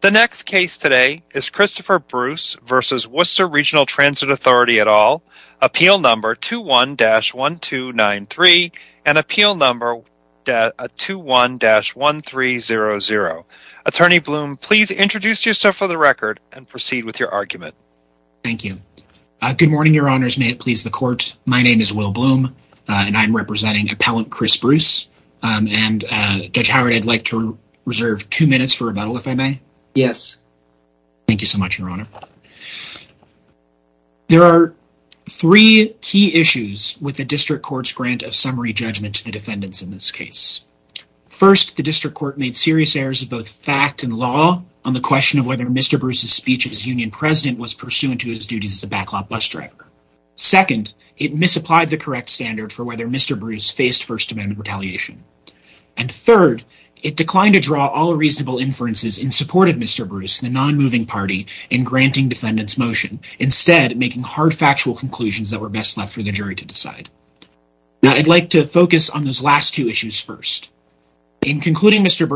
The next case today is Christopher Bruce v. Worcester Regional Transit Authority et al., appeal number 21-1293 and appeal number 21-1300. Attorney Bloom, please introduce yourself for the record and proceed with your argument. Thank you. Good morning, your honors. May it please the court. My name is Will Bloom, and I'm representing Appellant Chris Bruce, and Judge Howard, I'd like to reserve two minutes for rebuttal, if I may. Yes. Thank you so much, your honor. There are three key issues with the district court's grant of summary judgment to the defendants in this case. First, the district court made serious errors of both fact and law on the question of whether Mr. Bruce's speech as union president was pursuant to his duties as a backlot bus driver. Second, it misapplied the correct standard for whether Mr. Bruce faced First Amendment retaliation. And third, it declined to draw all reasonable inferences in support of Mr. Bruce, the non-moving party, in granting defendants motion, instead making hard factual conclusions that were best left for the jury to decide. Now, I'd like to focus on those last two issues first. In concluding Mr.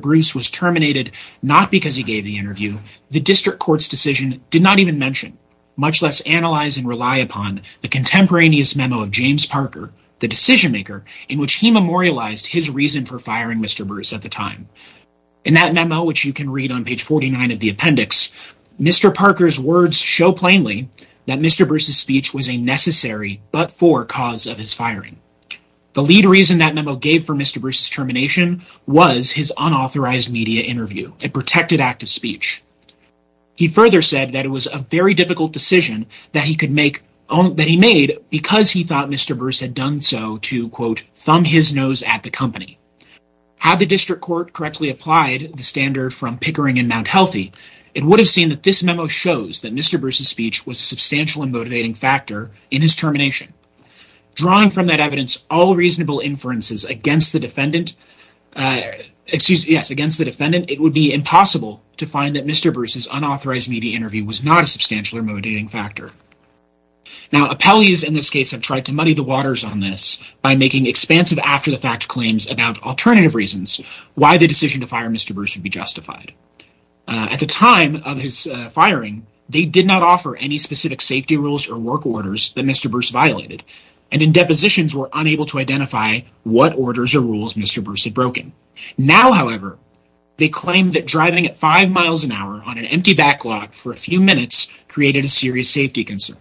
Bruce was terminated not because he gave the interview, the district court's decision did not even mention, much less analyze and rely upon, the contemporaneous memo of James Parker, the decision maker, in which he memorialized his reason for firing Mr. Bruce at the time. In that memo, which you can read on page 49 of the appendix, Mr. Parker's words show plainly that Mr. Bruce's speech was a necessary but for cause of his firing. The lead reason that memo gave for Mr. Bruce's termination was his unauthorized media interview, a protected act of speech. He further said that it was a very difficult decision that he made because he thought Mr. Bruce had done so to, quote, thumb his nose at the company. Had the district court correctly applied the standard from Pickering and Mount Healthy, it would have seen that this memo shows that Mr. Bruce's speech was a substantial and motivating factor in his termination. Drawing from that evidence all reasonable inferences against the defendant, it would be impossible to find that Mr. Bruce's unauthorized media interview was not a substantial or motivating factor. Now, appellees in this case have tried to muddy the waters on this by making expansive after-the-fact claims about alternative reasons why the decision to fire Mr. Bruce would be justified. At the time of his firing, they did not offer any specific safety rules or work orders that Mr. Bruce violated, and in depositions were unable to identify what orders or rules Mr. Bruce had broken. Now, however, they claim that driving at five miles an hour on an created a serious safety concern.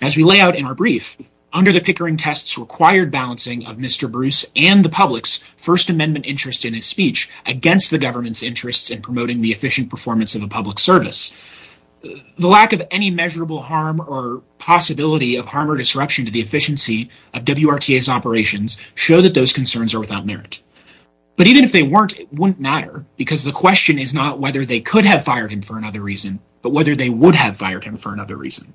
As we lay out in our brief, under the Pickering tests required balancing of Mr. Bruce and the public's First Amendment interest in his speech against the government's interests in promoting the efficient performance of a public service, the lack of any measurable harm or possibility of harm or disruption to the efficiency of WRTA's operations show that those concerns are without merit. But even if they weren't, it wouldn't matter because the question is not whether they could have fired him for another reason, but whether they would have fired him for another reason.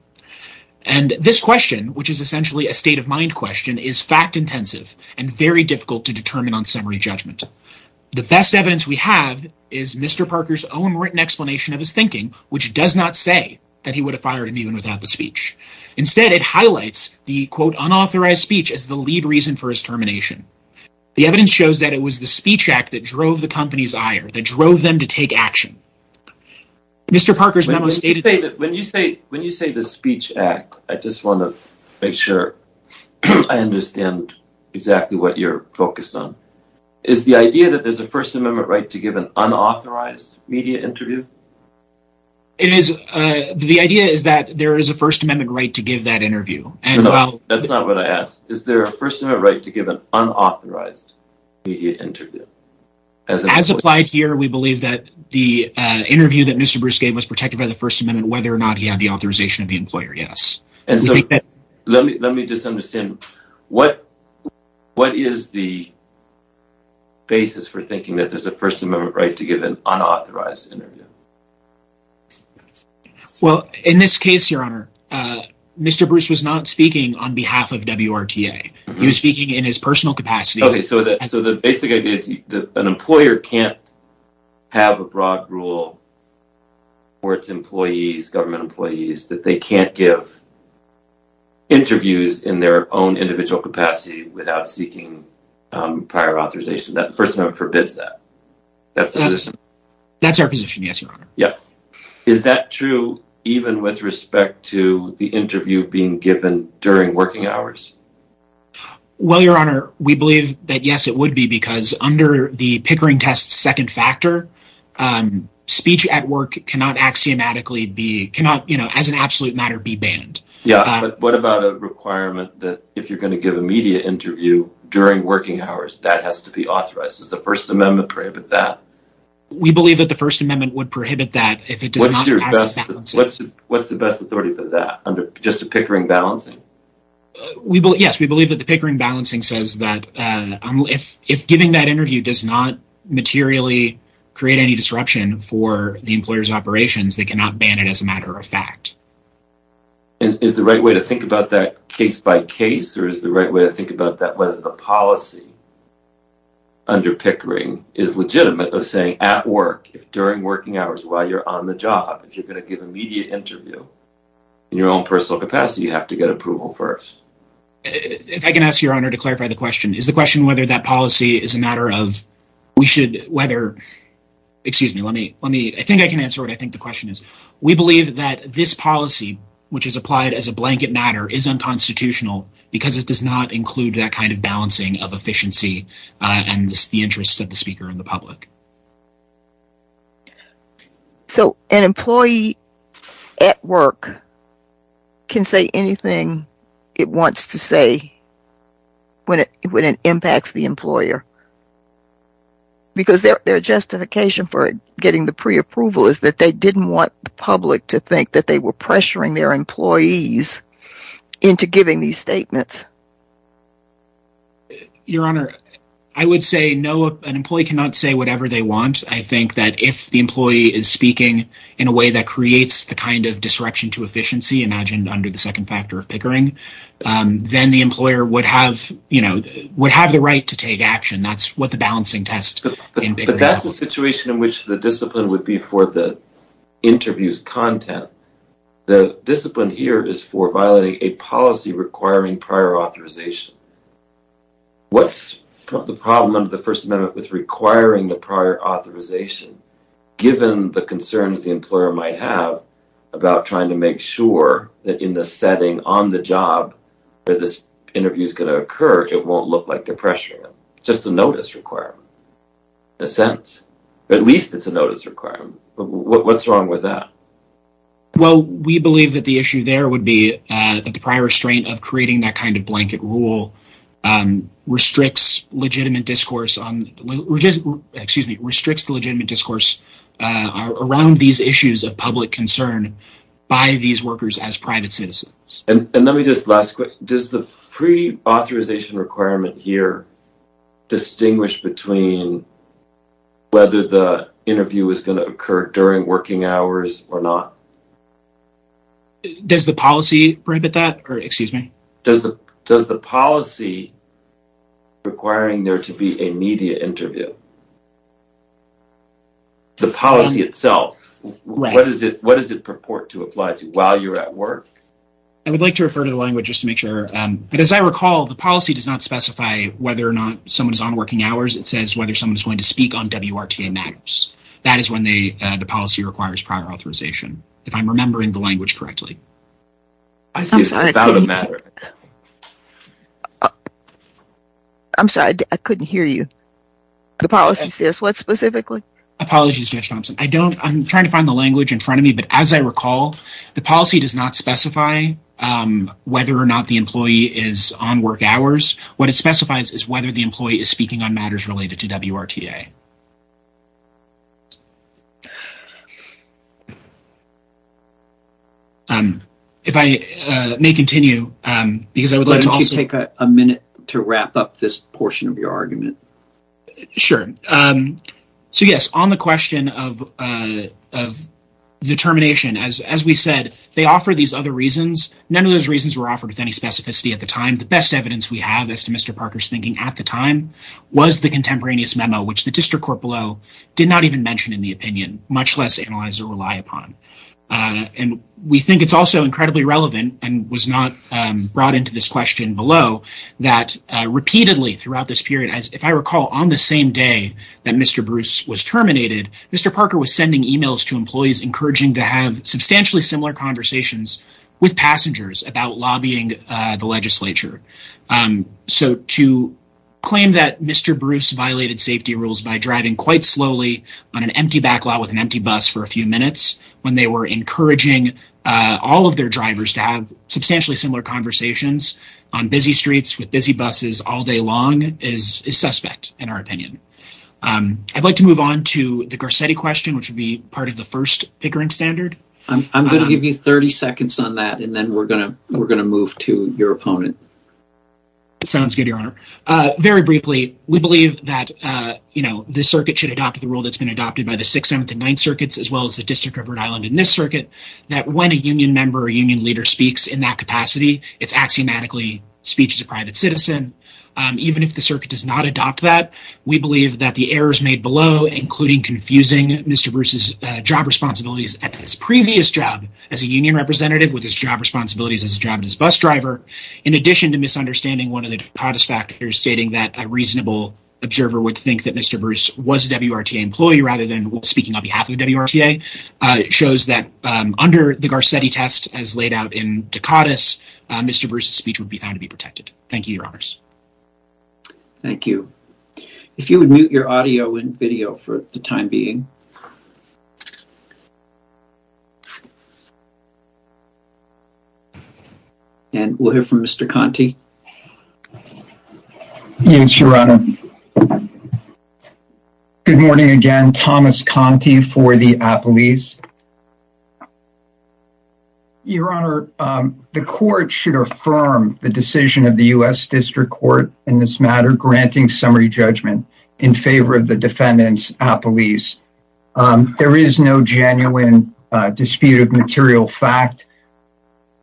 And this question, which is essentially a state-of-mind question, is fact-intensive and very difficult to determine on summary judgment. The best evidence we have is Mr. Parker's own written explanation of his thinking, which does not say that he would have fired him even without the speech. Instead, it highlights the, quote, unauthorized speech as the lead reason for his termination. The evidence shows that it drove the company's ire, that it drove them to take action. Mr. Parker's memo stated... When you say the speech act, I just want to make sure I understand exactly what you're focused on. Is the idea that there's a First Amendment right to give an unauthorized media interview? The idea is that there is a First Amendment right to give that interview. That's not what I asked. Is there a First Amendment right to give an unauthorized media interview? As applied here, we believe that the interview that Mr. Bruce gave was protected by the First Amendment, whether or not he had the authorization of the employer, yes. Let me just understand, what is the basis for thinking that there's a First Amendment right to give an unauthorized interview? Well, in this case, Your Honor, Mr. Bruce was not So the basic idea is that an employer can't have a broad rule for its employees, government employees, that they can't give interviews in their own individual capacity without seeking prior authorization. That First Amendment forbids that. That's our position, yes, Your Honor. Yeah. Is that true even with respect to the interview being given during working hours? Well, Your Honor, we believe that, yes, it would be, because under the Pickering Test's second factor, speech at work cannot axiomatically be, cannot, you know, as an absolute matter, be banned. Yeah, but what about a requirement that if you're going to give a media interview during working hours, that has to be authorized? Does the First Amendment prohibit that? We believe that the First Amendment would prohibit that if it does not pass the balancing act. What's the best authority for that under just the Pickering balancing? We believe, yes, we believe that the Pickering balancing says that if giving that interview does not materially create any disruption for the employer's operations, they cannot ban it as a matter of fact. And is the right way to think about that case by case, or is the right way to think about that whether the policy under Pickering is legitimate of saying at work, if during working hours, while you're on the job, if you're going to give a media interview in your own personal capacity, you have to get approval first. If I can ask Your Honor to clarify the question, is the question whether that policy is a matter of, we should, whether, excuse me, let me, let me, I think I can answer what I think the question is. We believe that this policy, which is applied as a blanket matter, is unconstitutional because it does not include that kind of balancing of efficiency and the interests of the speaker and the public. So an employee at work can say anything it wants to say when it impacts the employer because their justification for getting the pre-approval is that they didn't want the public to think that they were pressuring their employees into giving these statements. Your Honor, I would say no, an employee cannot say whatever they want. I think that if the employee is speaking in a way that creates the kind of disruption to efficiency imagined under the second factor of Pickering, then the employer would have, you know, would have the right to take action. That's what the balancing test. But that's the situation in which the discipline would be for the interview's content. The discipline here is for violating a policy requiring prior authorization. What's the problem under the First Amendment with requiring the prior authorization, given the concerns the employer might have about trying to make sure that in the setting on the job where this interview is going to occur, it won't look like they're pressuring them. It's just a notice requirement, in a sense. At least it's a notice requirement. What's wrong with that? Well, we believe that the issue there would be that the restraint of creating that kind of blanket rule restricts legitimate discourse on, excuse me, restricts the legitimate discourse around these issues of public concern by these workers as private citizens. And let me just, last question, does the pre-authorization requirement here distinguish between whether the interview is going to occur during working hours or not? Does the policy prohibit that, or excuse me? Does the policy requiring there to be a media interview, the policy itself, what does it purport to apply to while you're at work? I would like to refer to the language just to make sure. But as I recall, the policy does not specify whether or not someone is on working hours. It says whether someone is going to speak on WRTA matters. That is when the policy requires prior authorization, if I'm remembering the language correctly. I'm sorry, I couldn't hear you. The policy says what specifically? Apologies, Judge Thompson. I don't, I'm trying to find the language in front of me, but as I recall, the policy does not specify whether or not the employee is on work hours. What it specifies is whether the employee is speaking on matters related to WRTA. If I may continue, because I would like to also take a minute to wrap up this portion of your argument. Sure. So yes, on the question of determination, as we said, they offer these other reasons. None of those reasons were offered with any specificity at the time. The best evidence we have as to Mr. Parker's thinking at the time was the contemporaneous memo, which the district court below did not even mention in the opinion, much less analyze or rely upon. And we think it's also incredibly relevant and was not brought into this question below that repeatedly throughout this period, as if I recall on the same day that Mr. Bruce was terminated, Mr. Parker was sending emails to employees encouraging to have substantially similar conversations with employees. So to claim that Mr. Bruce violated safety rules by driving quite slowly on an empty back lot with an empty bus for a few minutes when they were encouraging all of their drivers to have substantially similar conversations on busy streets with busy buses all day long is suspect in our opinion. I'd like to move on to the Garcetti question, which would be part of the first Pickering standard. I'm going to give you 30 seconds on that, and then we're going to move to your opponent. It sounds good, Your Honor. Very briefly, we believe that, you know, this circuit should adopt the rule that's been adopted by the 6th, 7th, and 9th circuits, as well as the District of Rhode Island in this circuit, that when a union member or union leader speaks in that capacity, it's axiomatically speech as a private citizen. Even if the circuit does not adopt that, we believe that the errors made below, including confusing Mr. Bruce's job responsibilities at his previous job as a union representative with his job responsibilities as a job as a bus driver, in addition to misunderstanding one of the Dakotas factors stating that a reasonable observer would think that Mr. Bruce was a WRTA employee rather than speaking on behalf of WRTA, shows that under the Garcetti test as laid out in Dakotas, Mr. Bruce's speech would be found to be protected. Thank you, Your Honors. Thank you. If you would mute your audio and video for the time being. And we'll hear from Mr. Conte. Yes, Your Honor. Good morning again. Thomas Conte for the Appellees. Your Honor, the court should affirm the decision of the U.S. District Court in this matter, granting summary judgment in favor of the defendant's appellees. There is no genuine dispute of material fact.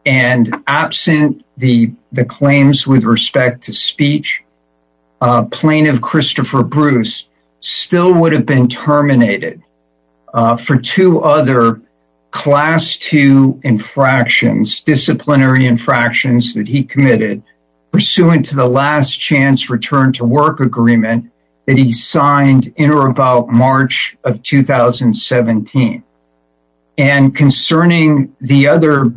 And absent the claims with respect to speech, plaintiff Christopher Bruce still would have been terminated for two other class two infractions, disciplinary infractions that he committed, pursuant to the last chance return to work agreement that he signed in or about March of 2017. And concerning the other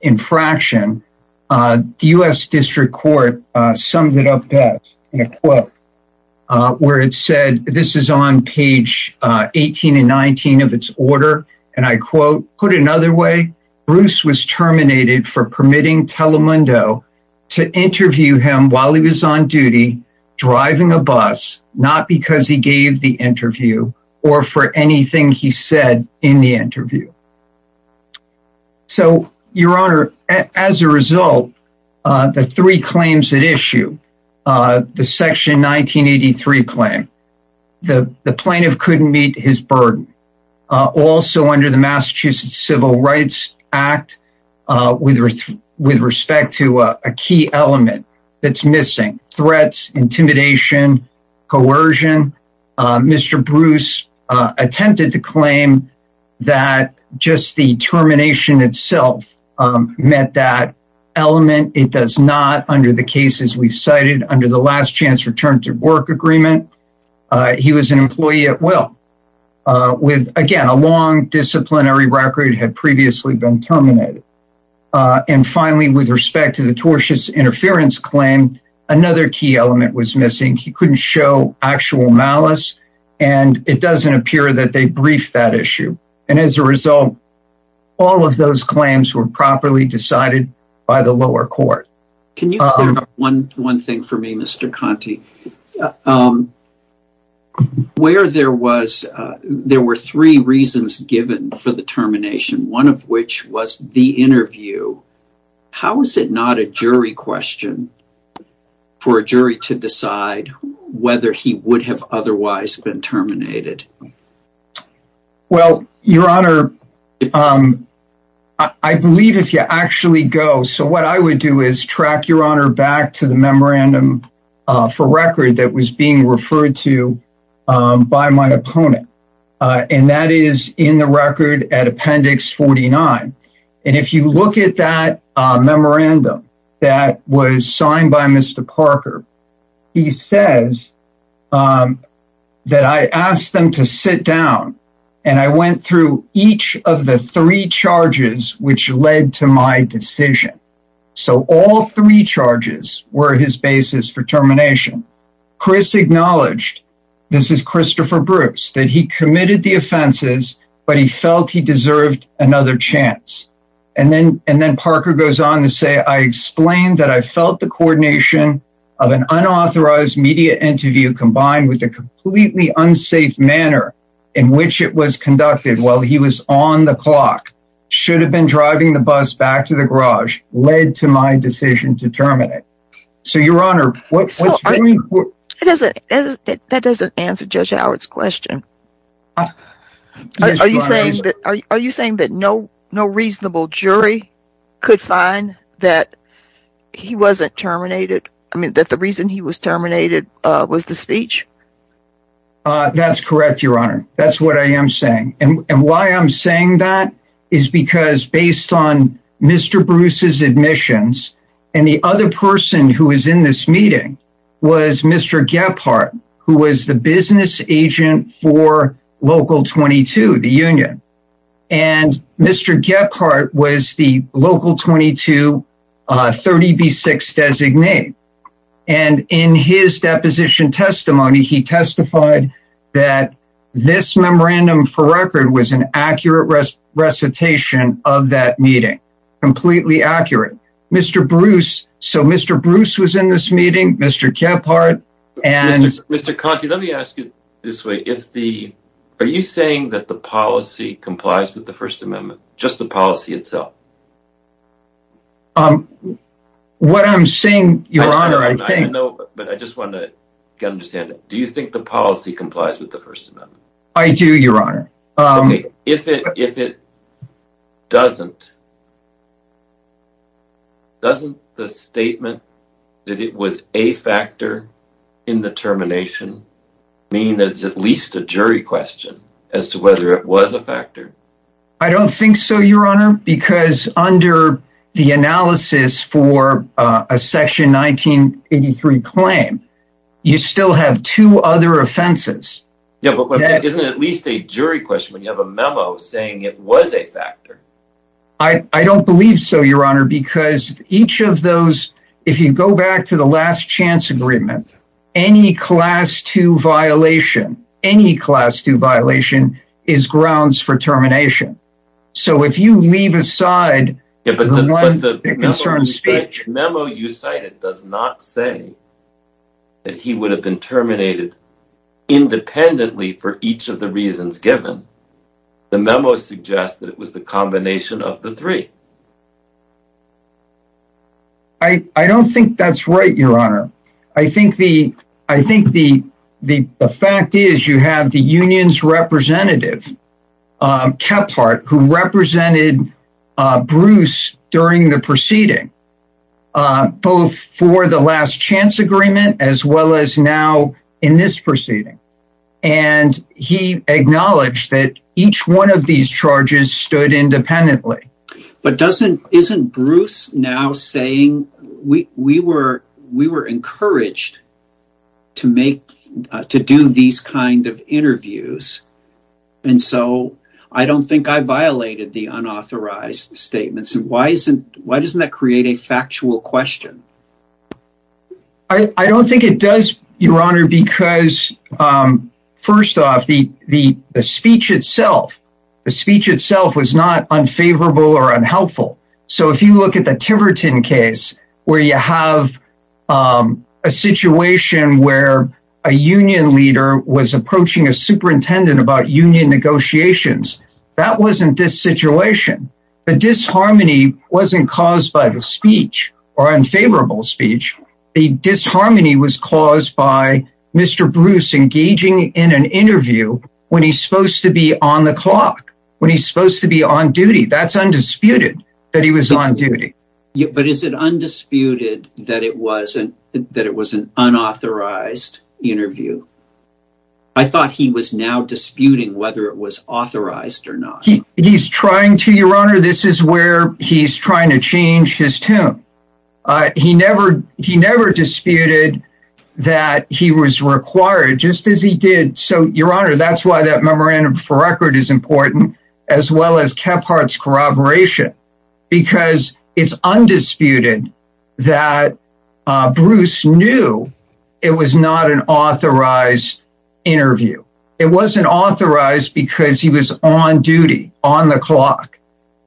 infraction, the U.S. District Court summed it up best in a quote, where it said, this is on page 18 and 19 of its order. And I quote, put another way, Bruce was terminated for permitting Telemundo to interview him while he was on duty, driving a bus, not because he gave the interview or for anything he said in the interview. So, Your Honor, as a result, the three claims at issue, the section 1983 claim, the plaintiff couldn't meet his burden. Also under the Massachusetts Civil Rights Act, with respect to a key element that's missing, threats, intimidation, coercion, Mr. Bruce attempted to claim that just the termination itself meant that element. It does not under the cases we've cited under the last chance return to work agreement. He was an employee at will with, again, a long disciplinary record had previously been terminated. And finally, with respect to the tortious interference claim, another key element was missing. He couldn't show actual malice and it doesn't appear that they briefed that issue. And as a result, all of those claims were properly decided by the lower court. Can you say one thing for me, Mr. Conte? Where there were three reasons given for the termination, one of which was the interview. How is it not a jury question for a jury to decide whether he would have otherwise been terminated? Well, your honor, I believe if you actually go, so what I would do is track your honor back to the memorandum for record that was being referred to by my opponent. And that is in the record at appendix 49. And if you look at that memorandum that was signed by Mr. Parker, he says that I asked them to sit down and I went through each of the three charges which led to my decision. So all three charges were his basis for termination. Chris acknowledged, this is Christopher Bruce, that he committed the offenses, but he felt he deserved another chance. And then Parker goes on to say, I explained that I felt the coordination of an unauthorized media interview combined with a completely unsafe manner in which it was conducted while he was on the clock should have been driving the bus back to the garage led to my decision to terminate. So your honor, that doesn't answer Judge Howard's question. Are you saying that no reasonable jury could find that he wasn't terminated? I mean, that the reason he was terminated was the speech? That's correct, your honor. That's what I am saying. And why I'm saying that is because based on Mr. Bruce's admissions and the other person who is in this meeting was Mr. Gephardt, who was business agent for Local 22, the union. And Mr. Gephardt was the Local 22 30B6 designate. And in his deposition testimony, he testified that this memorandum for record was an accurate recitation of that meeting. Completely accurate. Mr. Bruce, so Mr. Bruce was in this meeting, Mr. Gephardt and... Mr. Conte, let me ask you this way. Are you saying that the policy complies with the First Amendment? Just the policy itself? What I'm saying, your honor, I think... But I just want to understand. Do you think the policy complies with the First Amendment? I do, your honor. If it doesn't, doesn't the statement that it was a factor in the termination mean it's at least a jury question as to whether it was a factor? I don't think so, your honor, because under the analysis for a section 1983 claim, you still have two other offenses. Yeah, but isn't it at least a jury question when you have a memo saying it was a factor? I don't believe so, your honor, because each of those, if you go back to the last chance agreement, any class 2 violation, any class 2 violation is grounds for termination. So if you leave aside... Memo you cited does not say that he would have been terminated independently for each of the the memos suggest that it was the combination of the three. I don't think that's right, your honor. I think the fact is you have the union's representative, Kephart, who represented Bruce during the proceeding, both for the last chance agreement as well as now in this proceeding, and he acknowledged that each one of these charges stood independently. But doesn't, isn't Bruce now saying we were encouraged to make, to do these kind of interviews, and so I don't think I violated the unauthorized statements. And why isn't, why doesn't that create a factual question? I don't think it does, your honor, because first off, the speech itself, the speech itself was not unfavorable or unhelpful. So if you look at the Tiverton case, where you have a situation where a union leader was approaching a superintendent about union negotiations, that wasn't this harmony wasn't caused by the speech or unfavorable speech. The disharmony was caused by Mr. Bruce engaging in an interview when he's supposed to be on the clock, when he's supposed to be on duty. That's undisputed that he was on duty. Yeah, but is it undisputed that it wasn't that it was an unauthorized interview? I thought he was now disputing whether it was authorized or he's trying to your honor, this is where he's trying to change his tune. He never, he never disputed that he was required just as he did. So your honor, that's why that memorandum for record is important, as well as Kephart's corroboration, because it's undisputed that Bruce knew it was not an authorized interview. It wasn't authorized because he was on duty on the clock.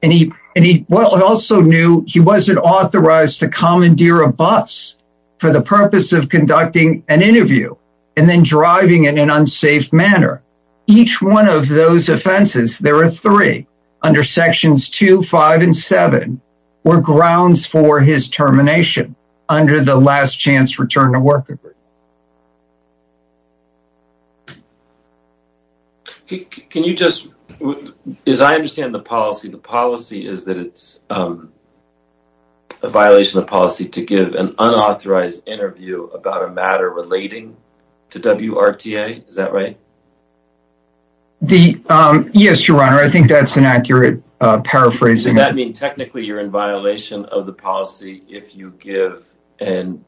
And he, and he also knew he wasn't authorized to commandeer a bus for the purpose of conducting an interview, and then driving in an unsafe manner. Each one of those offenses, there are three under sections two, five and seven, were grounds for his termination under the last chance return award. Can you just, as I understand the policy, the policy is that it's a violation of policy to give an unauthorized interview about a matter relating to WRTA, is that right? Yes, your honor, I think that's an accurate paraphrasing. Does that mean technically you're in violation of the policy if you give an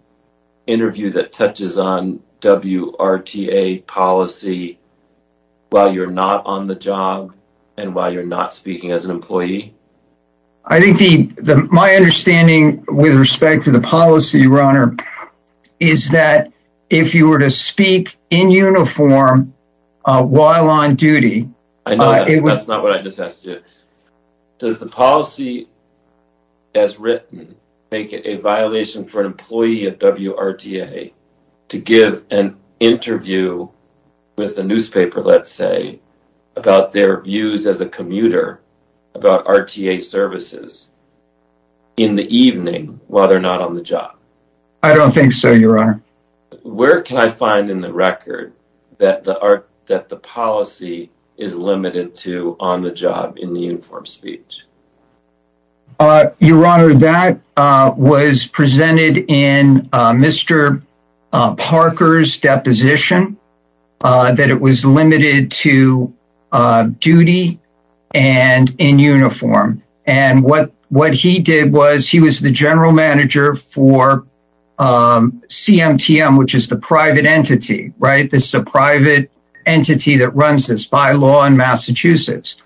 interview that touches on WRTA policy while you're not on the job and while you're not speaking as an employee? I think the, my understanding with respect to the policy, your honor, is that if you were to speak in uniform while on duty... I know that's not what I just asked you. Does the policy as written make it a violation for an employee of WRTA to give an interview with the newspaper, let's say, about their views as a commuter about RTA services in the evening while they're not on the job? I don't think so, your honor. Where can I find in the record that the policy is limited to on the job in the uniform speech? Your honor, that was presented in Mr. Parker's deposition, that it was limited to which is the private entity, right? This is a private entity that runs this bylaw in Massachusetts.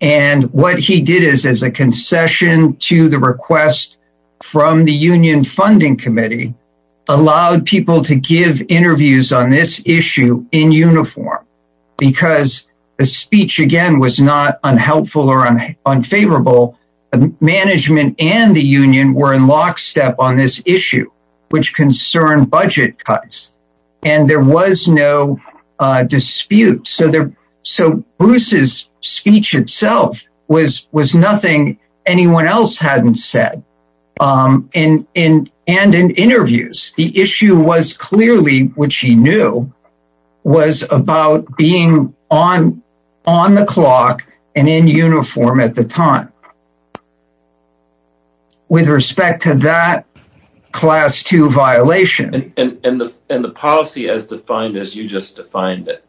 And what he did is, as a concession to the request from the union funding committee, allowed people to give interviews on this issue in uniform because the speech, again, was not unhelpful or unfavorable. Management and the union were in lockstep on this issue, which concerned budget cuts, and there was no dispute. So Bruce's speech itself was nothing anyone else hadn't said. And in interviews, the issue was clearly, which he knew, was about being on the clock and in uniform at the time. With respect to that class two violation. And the policy as defined as you just defined it,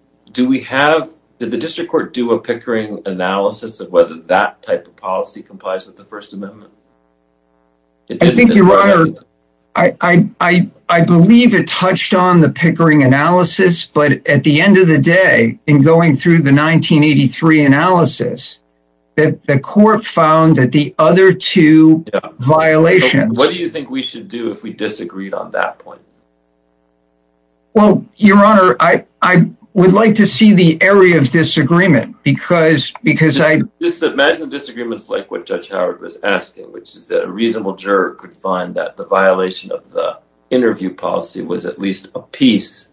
did the district court do a Pickering analysis of whether that type of policy complies with the First Amendment? I think, your honor, I believe it touched on the Pickering analysis, but at the end of the day, in going through the 1983 analysis, the court found that the other two violations. What do you think we should do if we disagreed on that point? Well, your honor, I would like to see the area of disagreement. Just imagine disagreements like what Judge Howard was asking, which is that a reasonable juror could find that the violation of the interview policy was at least a piece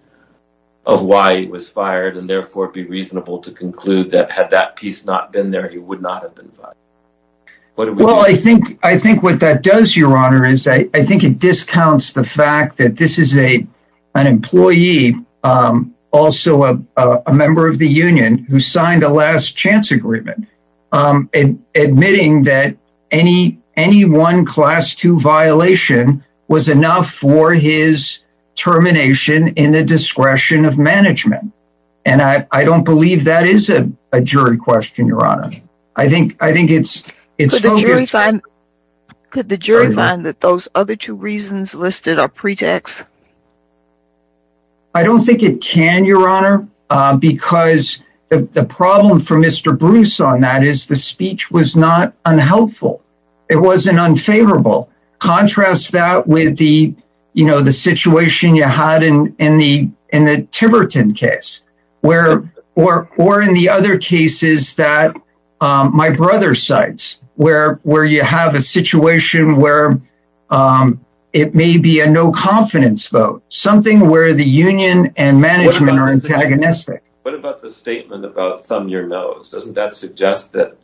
of why he was fired and therefore be reasonable to conclude that had that piece not been there, he would not have been fired. Well, I think what that does, your honor, is I think it discounts the fact that this is an employee, also a member of the union who signed a last chance agreement, admitting that any one class two violation was enough for his termination in the discretion of management, and I don't believe that is a jury question, your honor. I think it's focused on... Could the jury find that those other two reasons listed are pretext? I don't think it can, your honor, because the problem for Mr. Bruce on that is the speech was not unhelpful. It wasn't unfavorable. Contrast that with the, you know, the situation you had in the Timberton case, or in the other cases that my brother cites, where you have a situation where it may be a no confidence vote, something where the union and management are antagonistic. What about the statement about some your nose? Doesn't that suggest that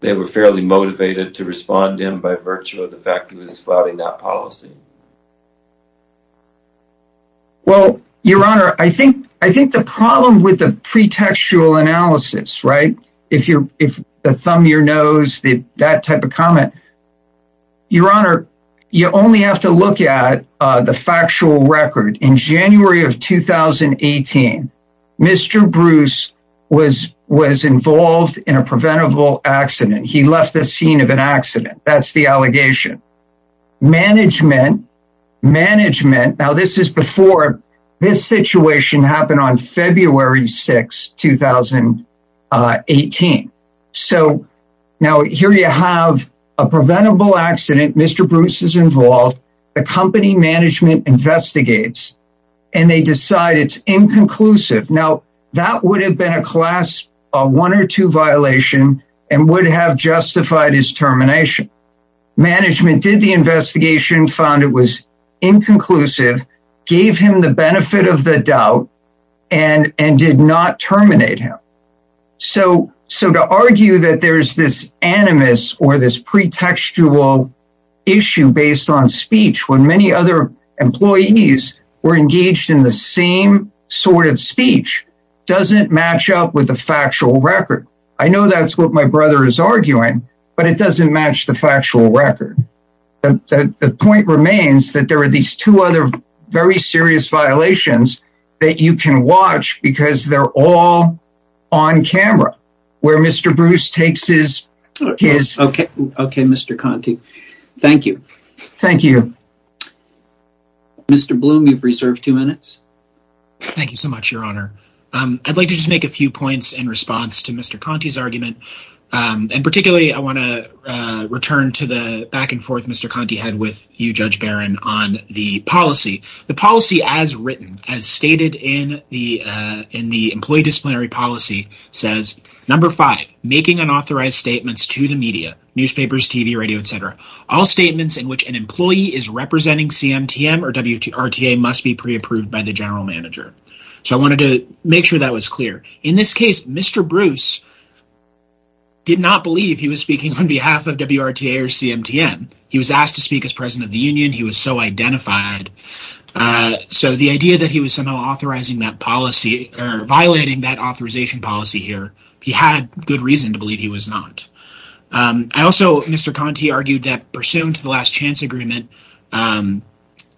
they were fairly motivated to respond in by virtue of the fact he was flouting that policy? Well, your honor, I think the problem with the pretextual analysis, right? If the thumb your nose, that type of comment, your honor, you only have to look at the factual record. In January of 2018, Mr. Bruce was involved in a preventable accident. He left the scene of an accident. That's the allegation. Management, now this is before this situation happened on February 6, 2018. So now here you have a preventable accident, Mr. Bruce is involved, the company management investigates, and they decide it's inconclusive. Now, that would have been a class one or two management did the investigation found it was inconclusive, gave him the benefit of the doubt, and did not terminate him. So to argue that there's this animus or this pretextual issue based on speech, when many other employees were engaged in the same sort of speech, doesn't match up with the factual record. I know that's what my brother is arguing, but it doesn't match the factual record. The point remains that there are these two other very serious violations that you can watch because they're all on camera, where Mr. Bruce takes his... Okay, Mr. Conte. Thank you. Thank you. Mr. Bloom, you've reserved two minutes. Thank you so much, your honor. I'd like to just make a few returns to the back and forth Mr. Conte had with you, Judge Barron, on the policy. The policy as written, as stated in the employee disciplinary policy says, number five, making unauthorized statements to the media, newspapers, TV, radio, et cetera, all statements in which an employee is representing CMTM or WTA must be pre-approved by the general manager. So I wanted to make sure that was clear. In this case, Mr. Bruce did not believe he was speaking on behalf of WRTA or CMTM. He was asked to speak as president of the union. He was so identified. So the idea that he was somehow authorizing that policy or violating that authorization policy here, he had good reason to believe he was not. I also, Mr. Conte argued that pursuant to the last chance agreement, um,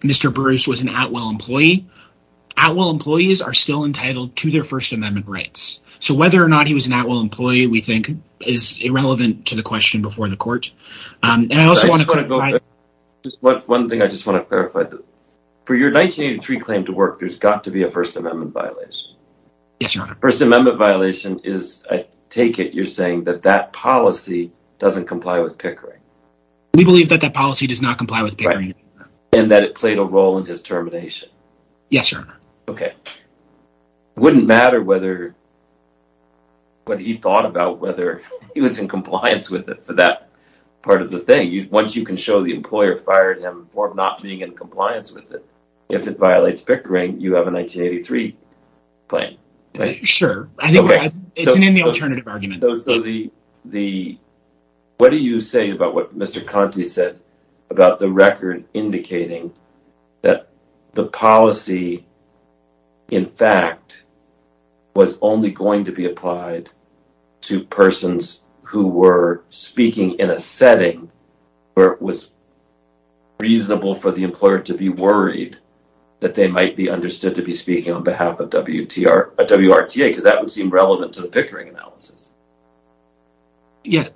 Mr. Bruce was an Atwell employee. Atwell employees are still entitled to their First Amendment rights. So whether or not he was an Atwell employee, we think is irrelevant to the question before the court. Um, and I also want to clarify one thing. I just want to clarify that for your 1983 claim to work, there's got to be a First Amendment violation. Yes, your honor. First Amendment violation is, I take it you're saying that that policy doesn't comply with Pickering? We believe that that policy does not comply with Pickering. And that it played a role in his termination? Yes, your honor. Okay. Wouldn't matter whether what he thought about whether he was in compliance with it for that part of the thing. Once you can show the employer fired him for not being in compliance with it, if it violates Pickering, you have a 1983 claim. Sure. I think it's an in the alternative argument. What do you say about what Mr. Conte said about the record indicating that the policy, in fact, was only going to be applied to persons who were speaking in a setting where it was reasonable for the employer to be worried that they might be understood to be speaking on behalf of WRTA? Because that would seem relevant to the Pickering analysis. Yeah,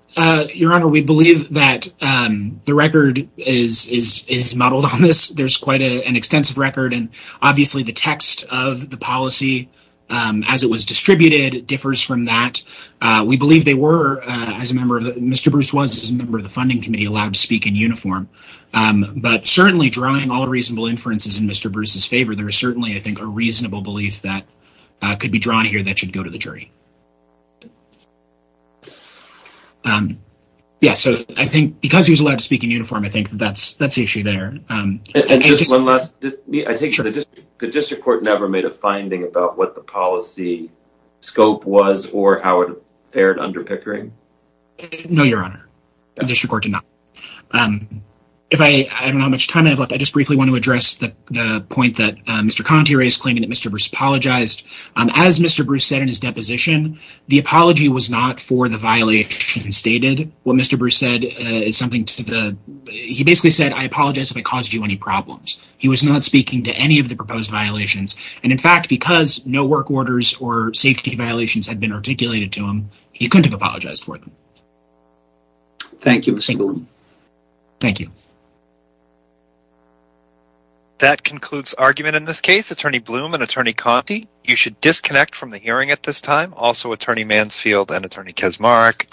your honor. We believe that the record is modeled on this. There's quite an extensive record and obviously the text of the policy as it was distributed differs from that. We believe they were, as a member of the Mr. Bruce was, as a member of the funding committee, allowed to speak in uniform. But certainly drawing all reasonable inferences in Mr. Bruce's favor, there is certainly, I think, a reasonable belief that could be drawn here that should go to the jury. Yeah, so I think because he was allowed to speak in uniform, I think that's issue there. I take it the district court never made a finding about what the policy scope was or how it fared under Pickering? No, your honor. The district court did not. If I, I don't know how much time I have left, I just briefly want to address the point that Mr. Conti is claiming that Mr. Bruce apologized. As Mr. Bruce said in his deposition, the apology was not for the violation stated. What Mr. Bruce said is something to the, he basically said, I apologize if I caused you any problems. He was not speaking to any of the proposed violations. And in fact, because no work orders or safety violations had been articulated to him, he couldn't have apologized for them. Thank you, Mr. Blum. Thank you. That concludes argument in this case. Attorney Blum and Attorney Conti, you should disconnect from the hearing at this time. Also, Attorney Mansfield and Attorney Kesmaric.